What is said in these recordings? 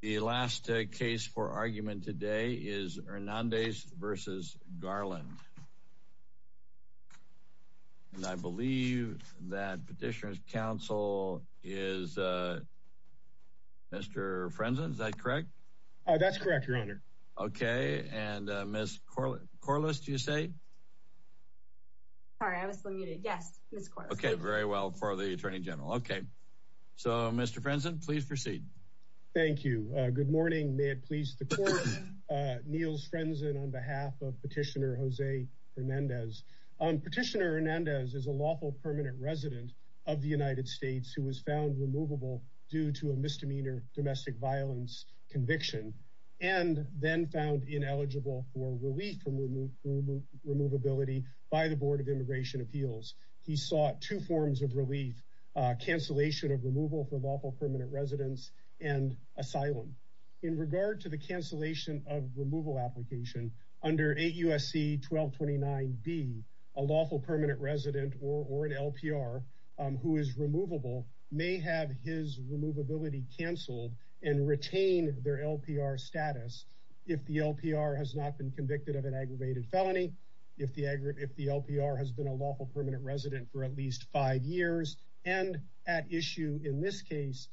the last case for argument today is Hernandez versus Garland and I believe that petitioners counsel is mr. Frenzel is that correct oh that's correct your honor okay and miss Corley Corliss do you say yes okay very well for the Attorney General okay so mr. Frenzel please proceed thank you good morning may it please the court Niels Frenzel on behalf of petitioner Jose Hernandez petitioner Hernandez is a lawful permanent resident of the United States who was found removable due to a misdemeanor domestic violence conviction and then found ineligible for relief from remove removability by the Board of Immigration Appeals he sought two forms of relief cancellation of removal for lawful permanent residents and asylum in regard to the cancellation of removal application under a USC 1229 be a lawful permanent resident or an LPR who is removable may have his removability canceled and retain their LPR status if the LPR has not been convicted of an aggravated felony if the aggregate the LPR has been a lawful permanent resident for at least five years and at issue in this case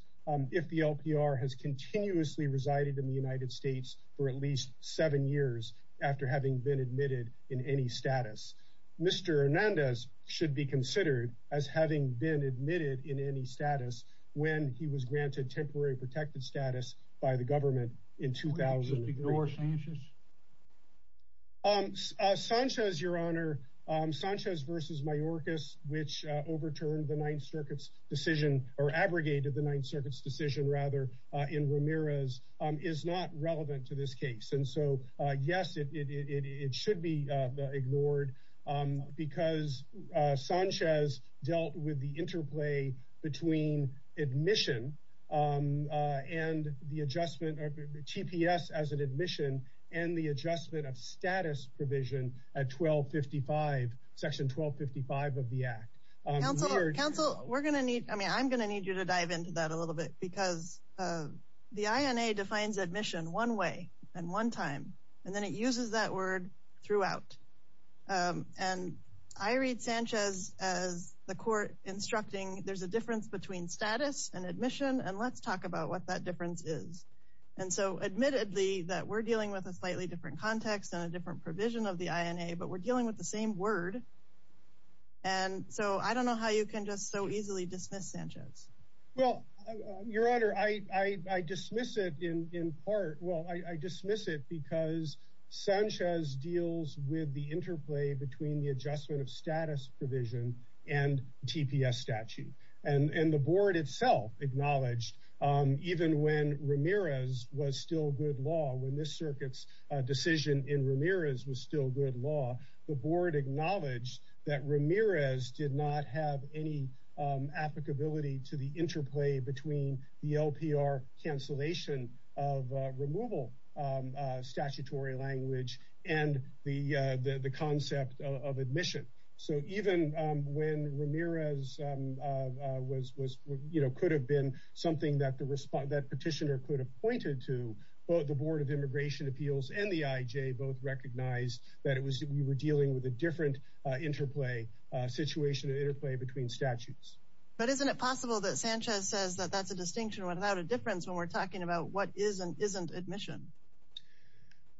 if the LPR has continuously resided in the United States for at least seven years after having been admitted in any status mr. Hernandez should be considered as having been admitted in any status when he was granted temporary protected status by the government in Sanchez your honor Sanchez vs. Mayorkas which overturned the Ninth Circuit's decision or abrogated the Ninth Circuit's decision rather in Ramirez is not relevant to this case and so yes it should be ignored because Sanchez dealt with the interplay between admission and the adjustment of the TPS as an admission and the adjustment of status provision at 1255 section 1255 of the Act we're gonna need I mean I'm gonna need you to dive into that a little bit because the INA defines admission one way and one time and then it uses that word throughout and I read Sanchez as the court instructing there's a difference between status and admission and let's and so admittedly that we're dealing with a slightly different context and a different provision of the INA but we're dealing with the same word and so I don't know how you can just so easily dismiss Sanchez well your honor I I dismiss it in part well I dismiss it because Sanchez deals with the interplay between the adjustment of status provision and TPS statute and and the board itself acknowledged even when Ramirez was still good law when this circuits decision in Ramirez was still good law the board acknowledged that Ramirez did not have any applicability to the interplay between the LPR cancellation of removal statutory language and the the concept of you know could have been something that the respond that petitioner could have pointed to both the Board of Immigration Appeals and the IJ both recognized that it was that we were dealing with a different interplay situation interplay between statutes but isn't it possible that Sanchez says that that's a distinction without a difference when we're talking about what isn't isn't admission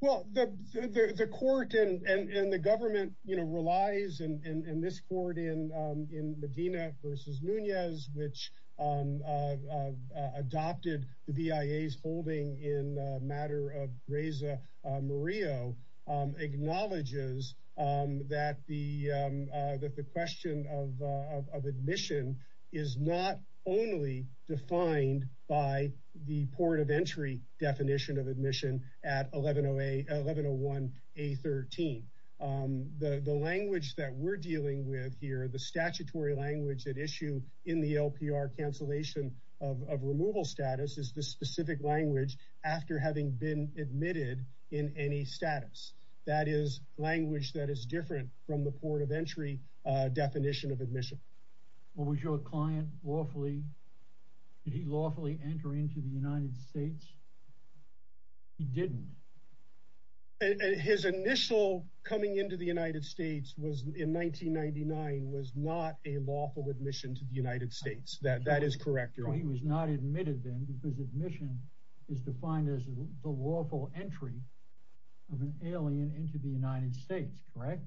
well the court and the government you know relies and in this in Medina versus Nunez which adopted the BIA's holding in matter of Reza Murillo acknowledges that the that the question of admission is not only defined by the port of entry definition of admission at 1101 a 13 the the dealing with here the statutory language at issue in the LPR cancellation of removal status is the specific language after having been admitted in any status that is language that is different from the port of entry definition of admission what was your client lawfully he lawfully entering to the United States he didn't his initial coming into the United States was in 1999 was not a lawful admission to the United States that that is correct or he was not admitted then because admission is defined as the lawful entry of an alien into the United States correct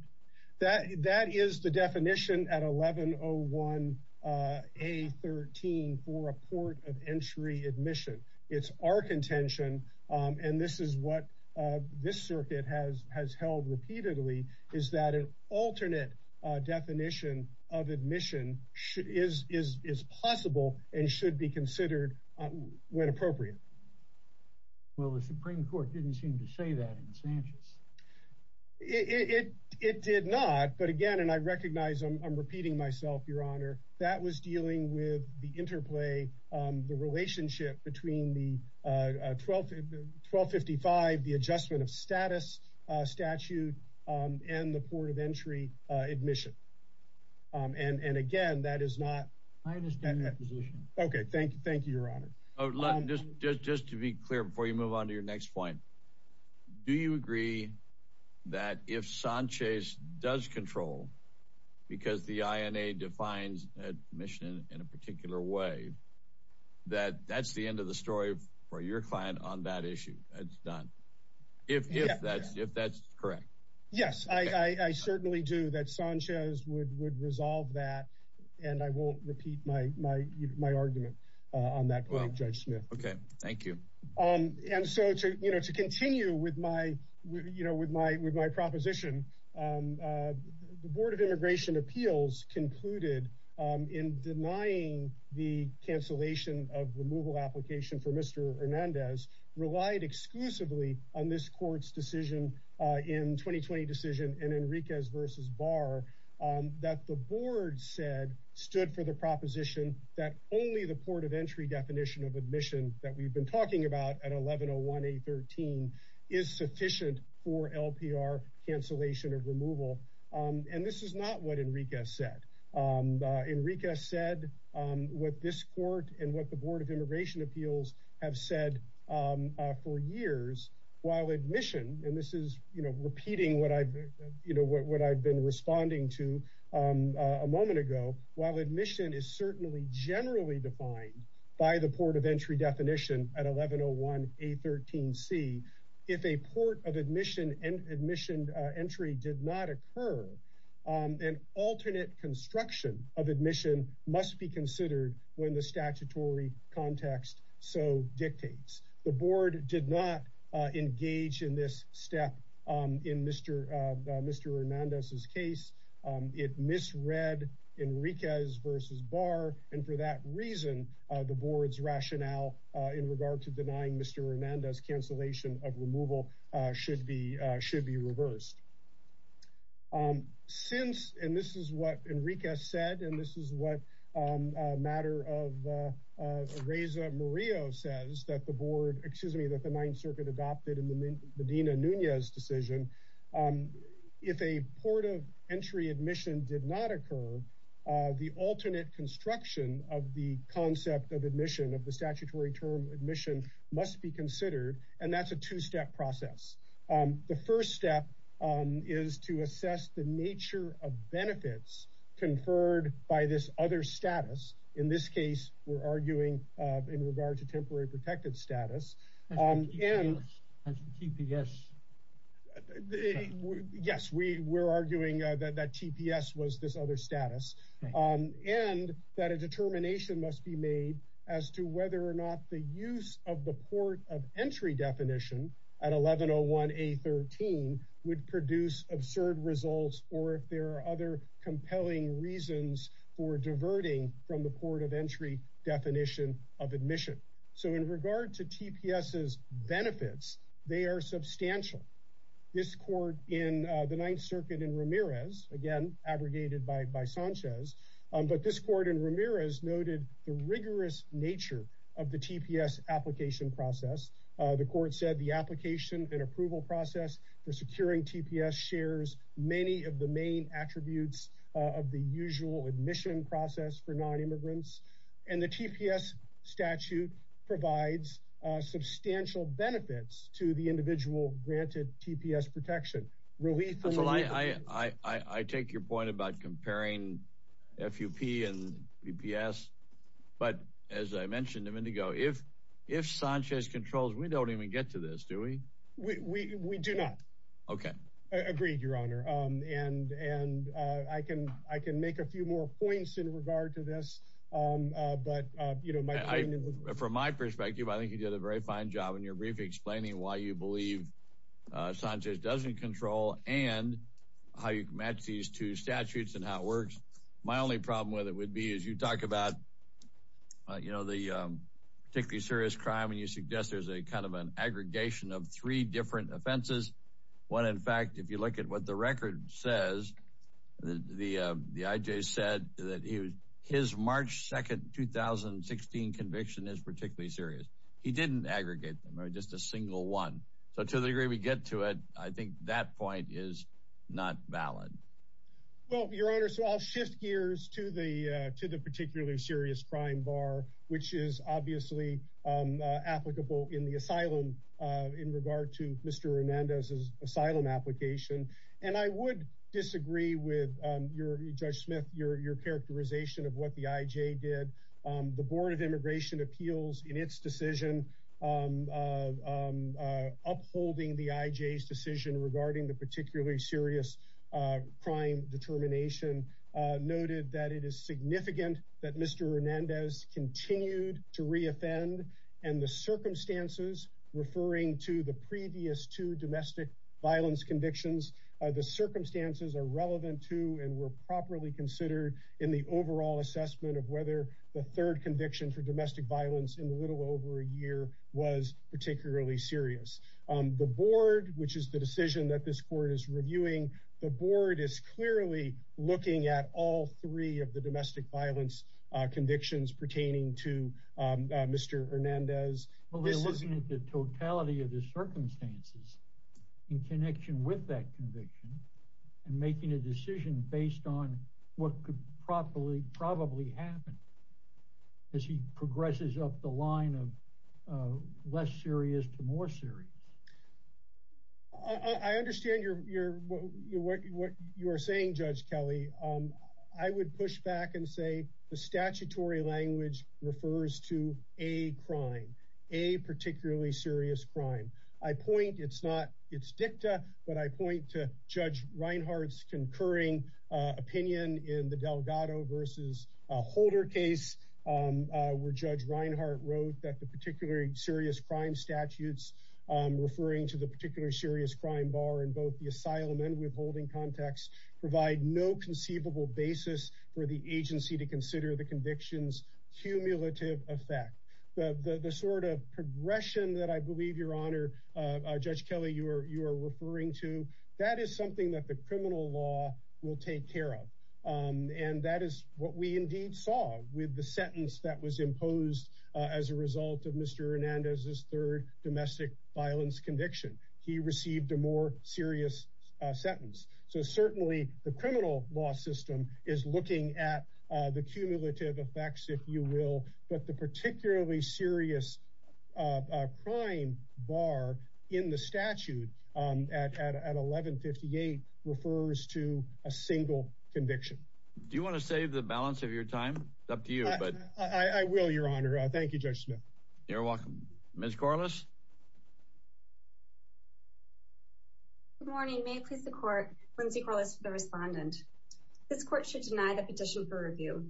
that that is the definition at 1101 a 13 for a port of entry admission it's our contention and this is what this definition of admission is is is possible and should be considered when appropriate well the Supreme Court didn't seem to say that in Sanchez it it did not but again and I recognize them I'm repeating myself your honor that was dealing with the interplay the relationship between the 12 1255 the and and again that is not okay thank you thank you your honor just just just to be clear before you move on to your next point do you agree that if Sanchez does control because the INA defines admission in a particular way that that's the end of the story for your client on that issue that's done if would resolve that and I won't repeat my argument on that well judge Smith okay thank you um and so to you know to continue with my you know with my with my proposition the Board of Immigration Appeals concluded in denying the cancellation of removal application for mr. Hernandez relied exclusively on this decision in 2020 decision and Enriquez versus bar that the board said stood for the proposition that only the port of entry definition of admission that we've been talking about at 1101 a 13 is sufficient for LPR cancellation of removal and this is not what Enriquez said Enriquez said what this court and what the Board of Immigration Appeals have said for years while admission and this is you know repeating what I've you know what I've been responding to a moment ago while admission is certainly generally defined by the port of entry definition at 1101 a 13 C if a port of admission and admission entry did not occur an alternate construction of admission must be considered when the statutory context so dictates the board did not engage in this step in mr. mr. Hernandez's case it misread Enriquez versus bar and for that reason the board's rationale in regard to denying mr. Hernandez cancellation of removal should be should be reversed since and this is what Enriquez said and this is what a matter of Reza Murillo says that the board excuse me that the Ninth Circuit adopted in the Medina Nunez decision if a port of entry admission did not occur the alternate construction of the concept of admission of the statutory term admission must be considered and that's a two-step process the first step is to assess the nature of benefits conferred by this other status in this case we're arguing in regard to temporary protected status and yes we were arguing that that TPS was this other status and that a determination must be made as to whether or not the use of the port of entry definition at 1101 a 13 would produce absurd results or if there are other compelling reasons for diverting from the port of entry definition of admission so in regard to TPS benefits they are substantial this court in the Ninth Circuit in Ramirez again abrogated by by Sanchez but this court in Ramirez noted the rigorous nature of the TPS application process the court said the application and approval process for securing TPS shares many of the main attributes of the usual admission process for non-immigrants and the TPS statute provides substantial benefits to the individual granted TPS protection really I I take your point about comparing FUP and EPS but as I mentioned a minute ago if if Sanchez controls we don't even get to this do we we do not okay agreed your honor and and I can I can make a few more points in regard to this but you know my from my perspective I think you did a very fine job and you're briefly explaining why you believe Sanchez doesn't control and how you can match these two statutes and how it works my only problem with it would be as you talk about you know the particularly serious crime and you there's a kind of an aggregation of three different offenses one in fact if you look at what the record says the the IJ said that he was his March 2nd 2016 conviction is particularly serious he didn't aggregate them or just a single one so to the degree we get to it I think that point is not valid well your honor so I'll shift gears to the to the particularly serious crime bar which is obviously applicable in the asylum in regard to mr. Hernandez's asylum application and I would disagree with your judge Smith your your characterization of what the IJ did the Board of Immigration appeals in its decision upholding the IJ's decision regarding the particularly serious crime continued to reoffend and the circumstances referring to the previous to domestic violence convictions the circumstances are relevant to and were properly considered in the overall assessment of whether the third conviction for domestic violence in a little over a year was particularly serious the board which is the decision that this court is reviewing the board is clearly looking at all three of the domestic violence convictions pertaining to mr. Hernandez well they're looking at the totality of the circumstances in connection with that conviction and making a decision based on what could properly probably happen as he progresses up the line of less serious to more serious I understand your what you are saying judge Kelly I would push back and say the statutory language refers to a crime a particularly serious crime I point it's not it's dicta but I point to judge Reinhart's concurring opinion in the Delgado versus a holder case where judge Reinhart wrote that the particularly serious crime statutes referring to the particularly serious crime bar in both the asylum and withholding context provide no conceivable basis for the agency to consider the convictions cumulative effect the the sort of progression that I believe your honor judge Kelly you are you are referring to that is something that the criminal law will take care of and that is what we indeed saw with the sentence that was imposed as a result of mr. Hernandez's third domestic violence conviction he the criminal law system is looking at the cumulative effects if you will but the particularly serious crime bar in the statute at 1158 refers to a single conviction do you want to save the balance of your time up to you but I will your honor thank you judge Smith you're welcome Miss Corliss morning may please the court Lindsay Corliss the respondent this court should deny the petition for review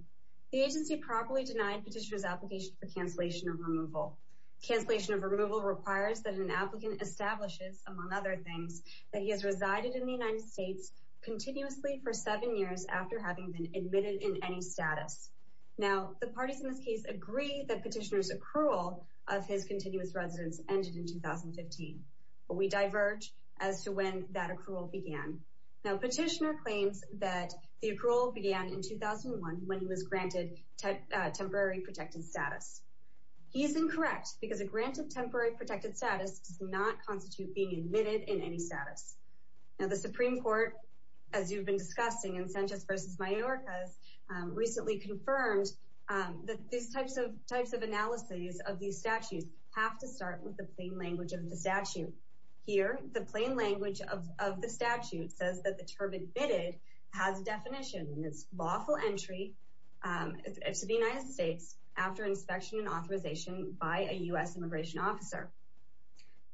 the agency properly denied petitioners application for cancellation of removal cancellation of removal requires that an applicant establishes among other things that he has resided in the United States continuously for seven years after having been admitted in any status now the parties in this case agree that petitioners accrual of his continuous residence ended in 2015 but we diverge as to when that accrual began now petitioner claims that the accrual began in 2001 when he was granted temporary protected status he is incorrect because a grant of temporary protected status does not constitute being admitted in any status now the Supreme Court as you've been discussing incentives versus my York has recently confirmed that these types of types of analyses of these statutes have to start with the plain language of the statute here the plain language of the statute says that the term admitted has a definition and it's lawful entry to the United States after inspection and authorization by a US immigration officer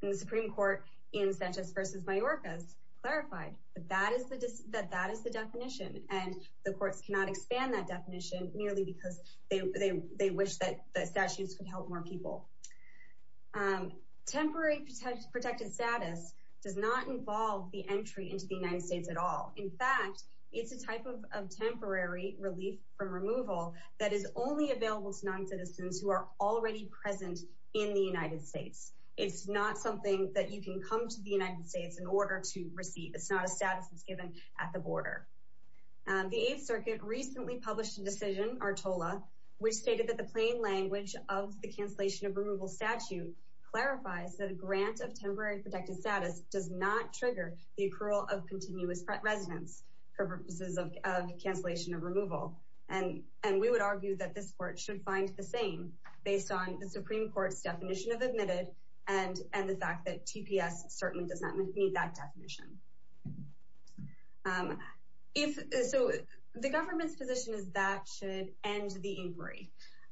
and the Supreme Court in such as versus my work has clarified that that is the diss that that is the definition and the courts cannot expand that nearly because they they wish that the statutes could help more people temporary protected status does not involve the entry into the United States at all in fact it's a type of temporary relief from removal that is only available to non-citizens who are already present in the United States it's not something that you can come to the United States in order to receive it's not a status at the border the 8th Circuit recently published a decision or Tola we stated that the plain language of the cancellation of removal statute clarifies that a grant of temporary protected status does not trigger the accrual of continuous residence purposes of cancellation of removal and and we would argue that this court should find the same based on the Supreme Court's definition of admitted and and the fact that TPS certainly does not need that definition if the government's position is that should end the inquiry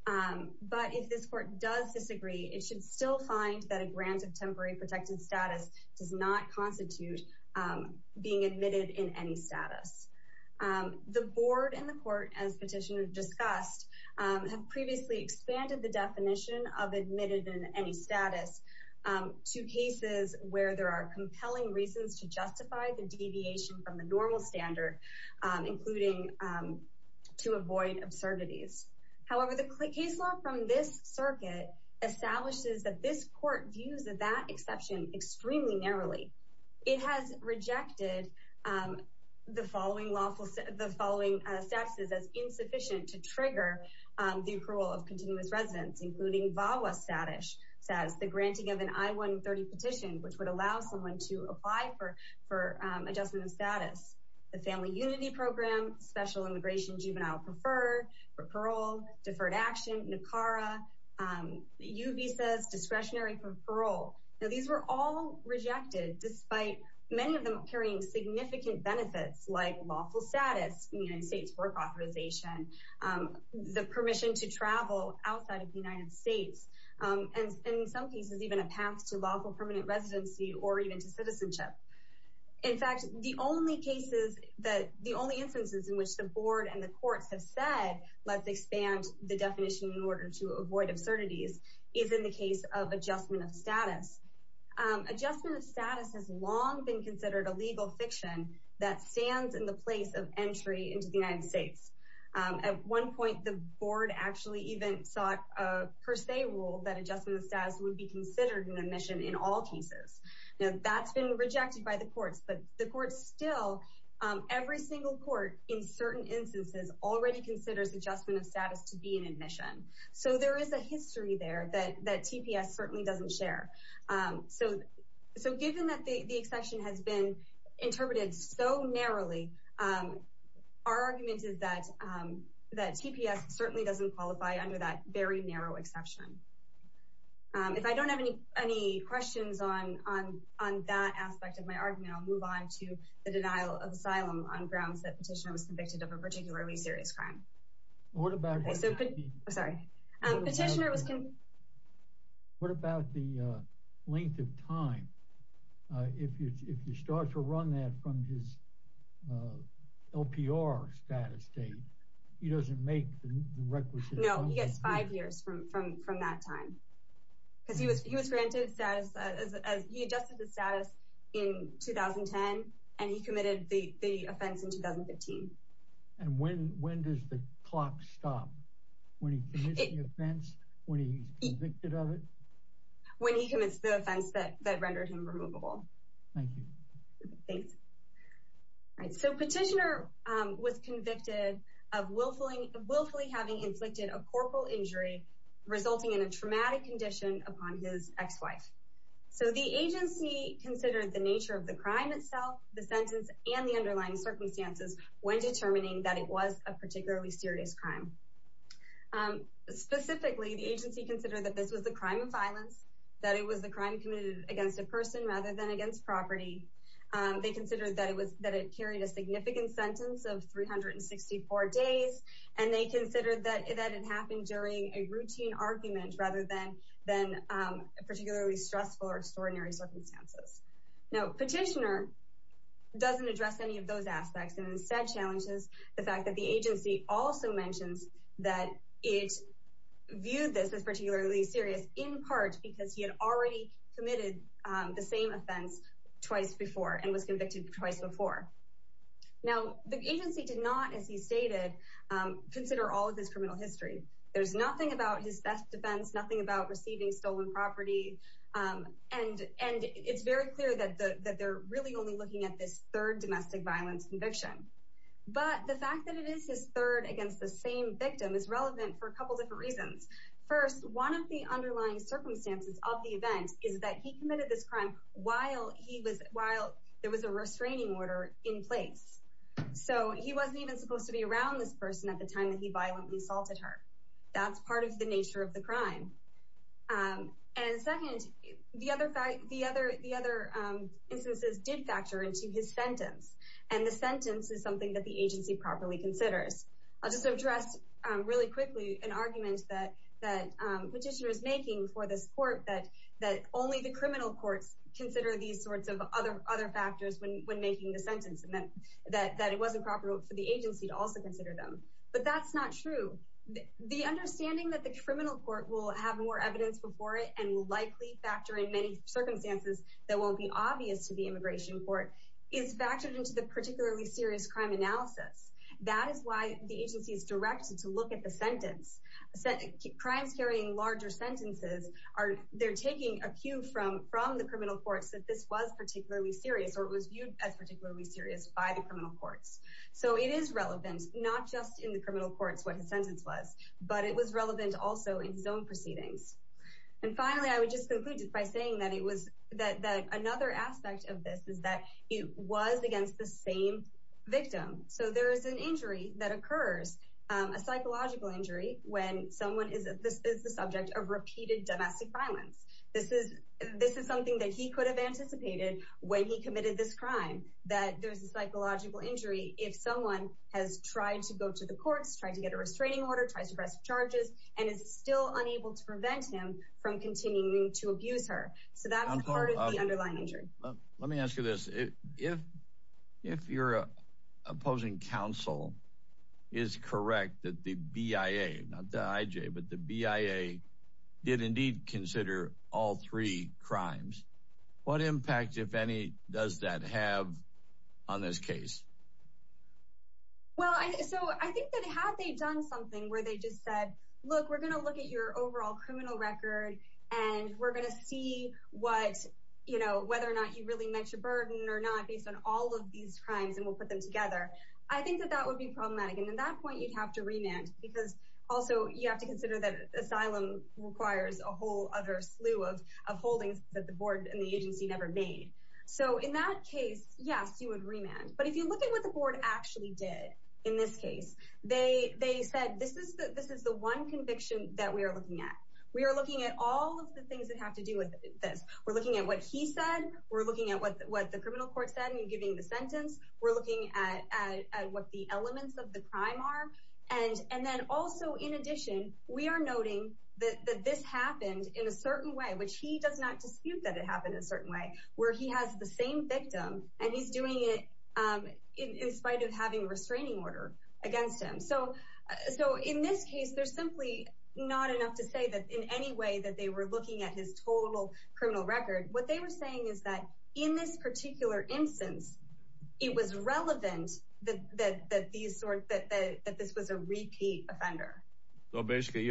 but if this court does disagree it should still find that a grant of temporary protected status does not constitute being admitted in any status the board and the court as petitioner discussed previously expanded the definition of admitted in status to cases where there are compelling reasons to justify the deviation from the normal standard including to avoid absurdities however the case law from this circuit establishes that this court views of that exception extremely narrowly it has rejected the following lawful set of the following taxes as insufficient to trigger the approval of continuous residence including VAWA status says the granting of an I-130 petition which would allow someone to apply for for adjustment of status the family unity program special immigration juvenile preferred for parole deferred action NACARA UV says discretionary for parole now these were all rejected despite many of them carrying significant benefits like lawful status United States work the permission to travel outside of the United States and in some cases even a path to lawful permanent residency or even to citizenship in fact the only cases that the only instances in which the board and the courts have said let's expand the definition in order to avoid absurdities is in the case of adjustment of status adjustment of status has long been considered a legal fiction that at one point the board actually even thought per se rule that adjustment of status would be considered an admission in all cases and that's been rejected by the courts but the courts still every single court in certain instances already considers adjustment of status to be an admission so there is a history there that that TPS certainly doesn't share so so given that the the exception has been interpreted so narrowly our argument is that that TPS certainly doesn't qualify under that very narrow exception if I don't have any any questions on on on that aspect of my argument I'll move on to the denial of asylum on grounds that petitioner was convicted of a particularly serious crime what about what about the length of time if you if you start to run that from his LPR status date he doesn't make the requisite no he gets five years from from from that time because he was he was granted status as he adjusted the stop when he when he commits the offense that rendered him removable so petitioner was convicted of willfully willfully having inflicted a corporal injury resulting in a traumatic condition upon his ex-wife so the agency considered the nature of the crime itself the sentence and the underlying circumstances when serious crime specifically the agency considered that this was a crime of violence that it was the crime committed against a person rather than against property they considered that it was that it carried a significant sentence of 364 days and they considered that it happened during a routine argument rather than then particularly stressful or extraordinary circumstances now petitioner doesn't address any of those aspects and instead challenges the fact that the agency also mentions that it viewed this as particularly serious in part because he had already committed the same offense twice before and was convicted twice before now the agency did not as he stated consider all of his criminal history there's nothing about his best defense nothing about receiving stolen property and and it's very clear that that they're really only looking at domestic violence conviction but the fact that it is his third against the same victim is relevant for a couple different reasons first one of the underlying circumstances of the event is that he committed this crime while he was while there was a restraining order in place so he wasn't even supposed to be around this person at the time that he violently assaulted her that's part of the nature of the crime and second the other fact the other the other instances did factor into his sentence and the sentence is something that the agency properly considers I'll just address really quickly an argument that that petitioner is making for this court that that only the criminal courts consider these sorts of other other factors when making the sentence and then that that it wasn't proper for the agency to also consider them but that's not true the understanding that the criminal court will have more evidence before it and likely factor in many circumstances that won't be obvious to the immigration court is factored into the particularly serious crime analysis that is why the agency is directed to look at the sentence said crimes carrying larger sentences are they're taking a cue from from the criminal courts that this was particularly serious or it was viewed as particularly serious by the criminal courts so it is relevant not just in the criminal courts what his sentence was but it was relevant also in zone proceedings and finally I would just by saying that it was that that another aspect of this is that it was against the same victim so there is an injury that occurs a psychological injury when someone is that this is the subject of repeated domestic violence this is this is something that he could have anticipated when he committed this crime that there's a psychological injury if someone has tried to go to the courts trying to get a restraining order tries and is still unable to prevent him from continuing to abuse her so that let me ask you this if if you're opposing counsel is correct that the BIA but the BIA did indeed consider all three crimes what impact if any does that have on look we're gonna look at your overall criminal record and we're gonna see what you know whether or not you really met your burden or not based on all of these crimes and we'll put them together I think that that would be problematic and in that point you'd have to remand because also you have to consider that asylum requires a whole other slew of holdings that the board and the agency never made so in that case yes you would remand but if you look at what the board actually did in this case they they said this is that this is the one conviction that we are looking at we are looking at all of the things that have to do with this we're looking at what he said we're looking at what what the criminal court said and giving the sentence we're looking at what the elements of the crime are and and then also in addition we are noting that this happened in a certain way which he does not dispute that it happened in a restraining order against him so so in this case there's simply not enough to say that in any way that they were looking at his total criminal record what they were saying is that in this particular instance it was relevant that these sort that this was a repeat offender so basically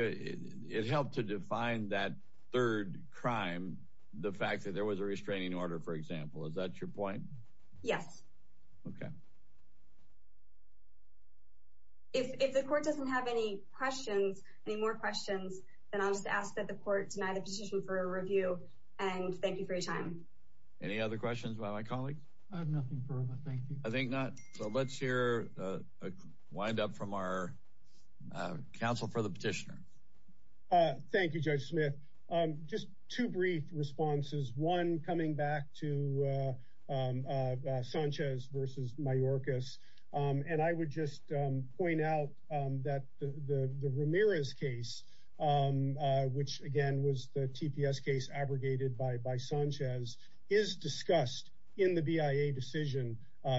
it helped to define that third crime the fact that there was a restraining order for sample is that your point yes okay if the court doesn't have any questions any more questions then I'll just ask that the court denied a position for a review and thank you for your time any other questions by my colleagues I think not so let's hear a wind up from our counsel for the petitioner thank you just two brief responses one coming back to Sanchez versus my Orcas and I would just point out that the the Ramirez case which again was the TPS case abrogated by by Sanchez is discussed in the BIA decision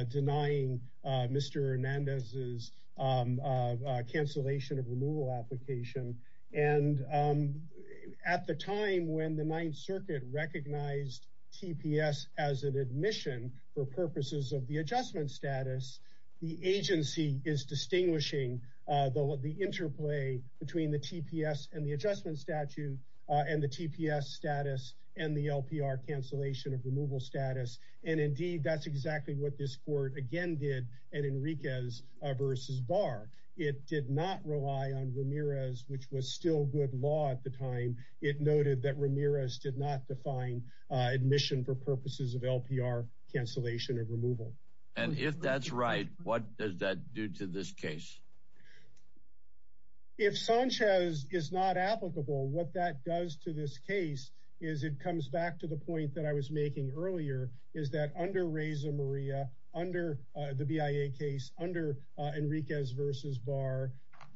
denying mr. Hernandez's cancellation of removal application and at the time when the Ninth Circuit recognized TPS as an admission for purposes of the adjustment status the agency is distinguishing the interplay between the TPS and the adjustment statute and the TPS status and the LPR cancellation of removal status and that's exactly what this court again did and Enriquez versus bar it did not rely on Ramirez which was still good law at the time it noted that Ramirez did not define admission for purposes of LPR cancellation of removal and if that's right what does that do to this case if Sanchez is not applicable what that does to this case is it comes back to the point that I was making earlier is that under Reza Maria under the BIA case under Enriquez versus bar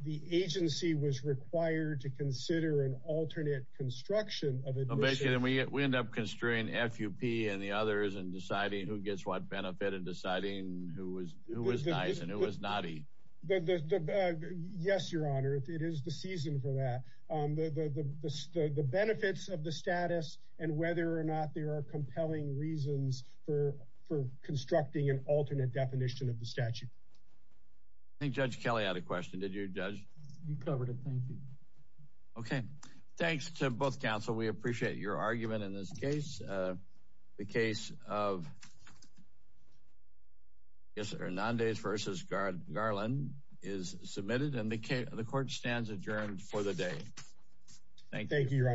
the agency was required to consider an alternate construction of it basically we end up constrain FUP and the others and deciding who gets what benefit of deciding who was who was nice and who was naughty yes your honor it is the season for that the benefits of the status and whether or not there are for constructing an alternate definition of the statute I think judge Kelly had a question did you judge you covered it thank you okay thanks to both counsel we appreciate your argument in this case the case of yes or non days versus guard Garland is submitted and they came the court stands adjourned for the day thank you your honors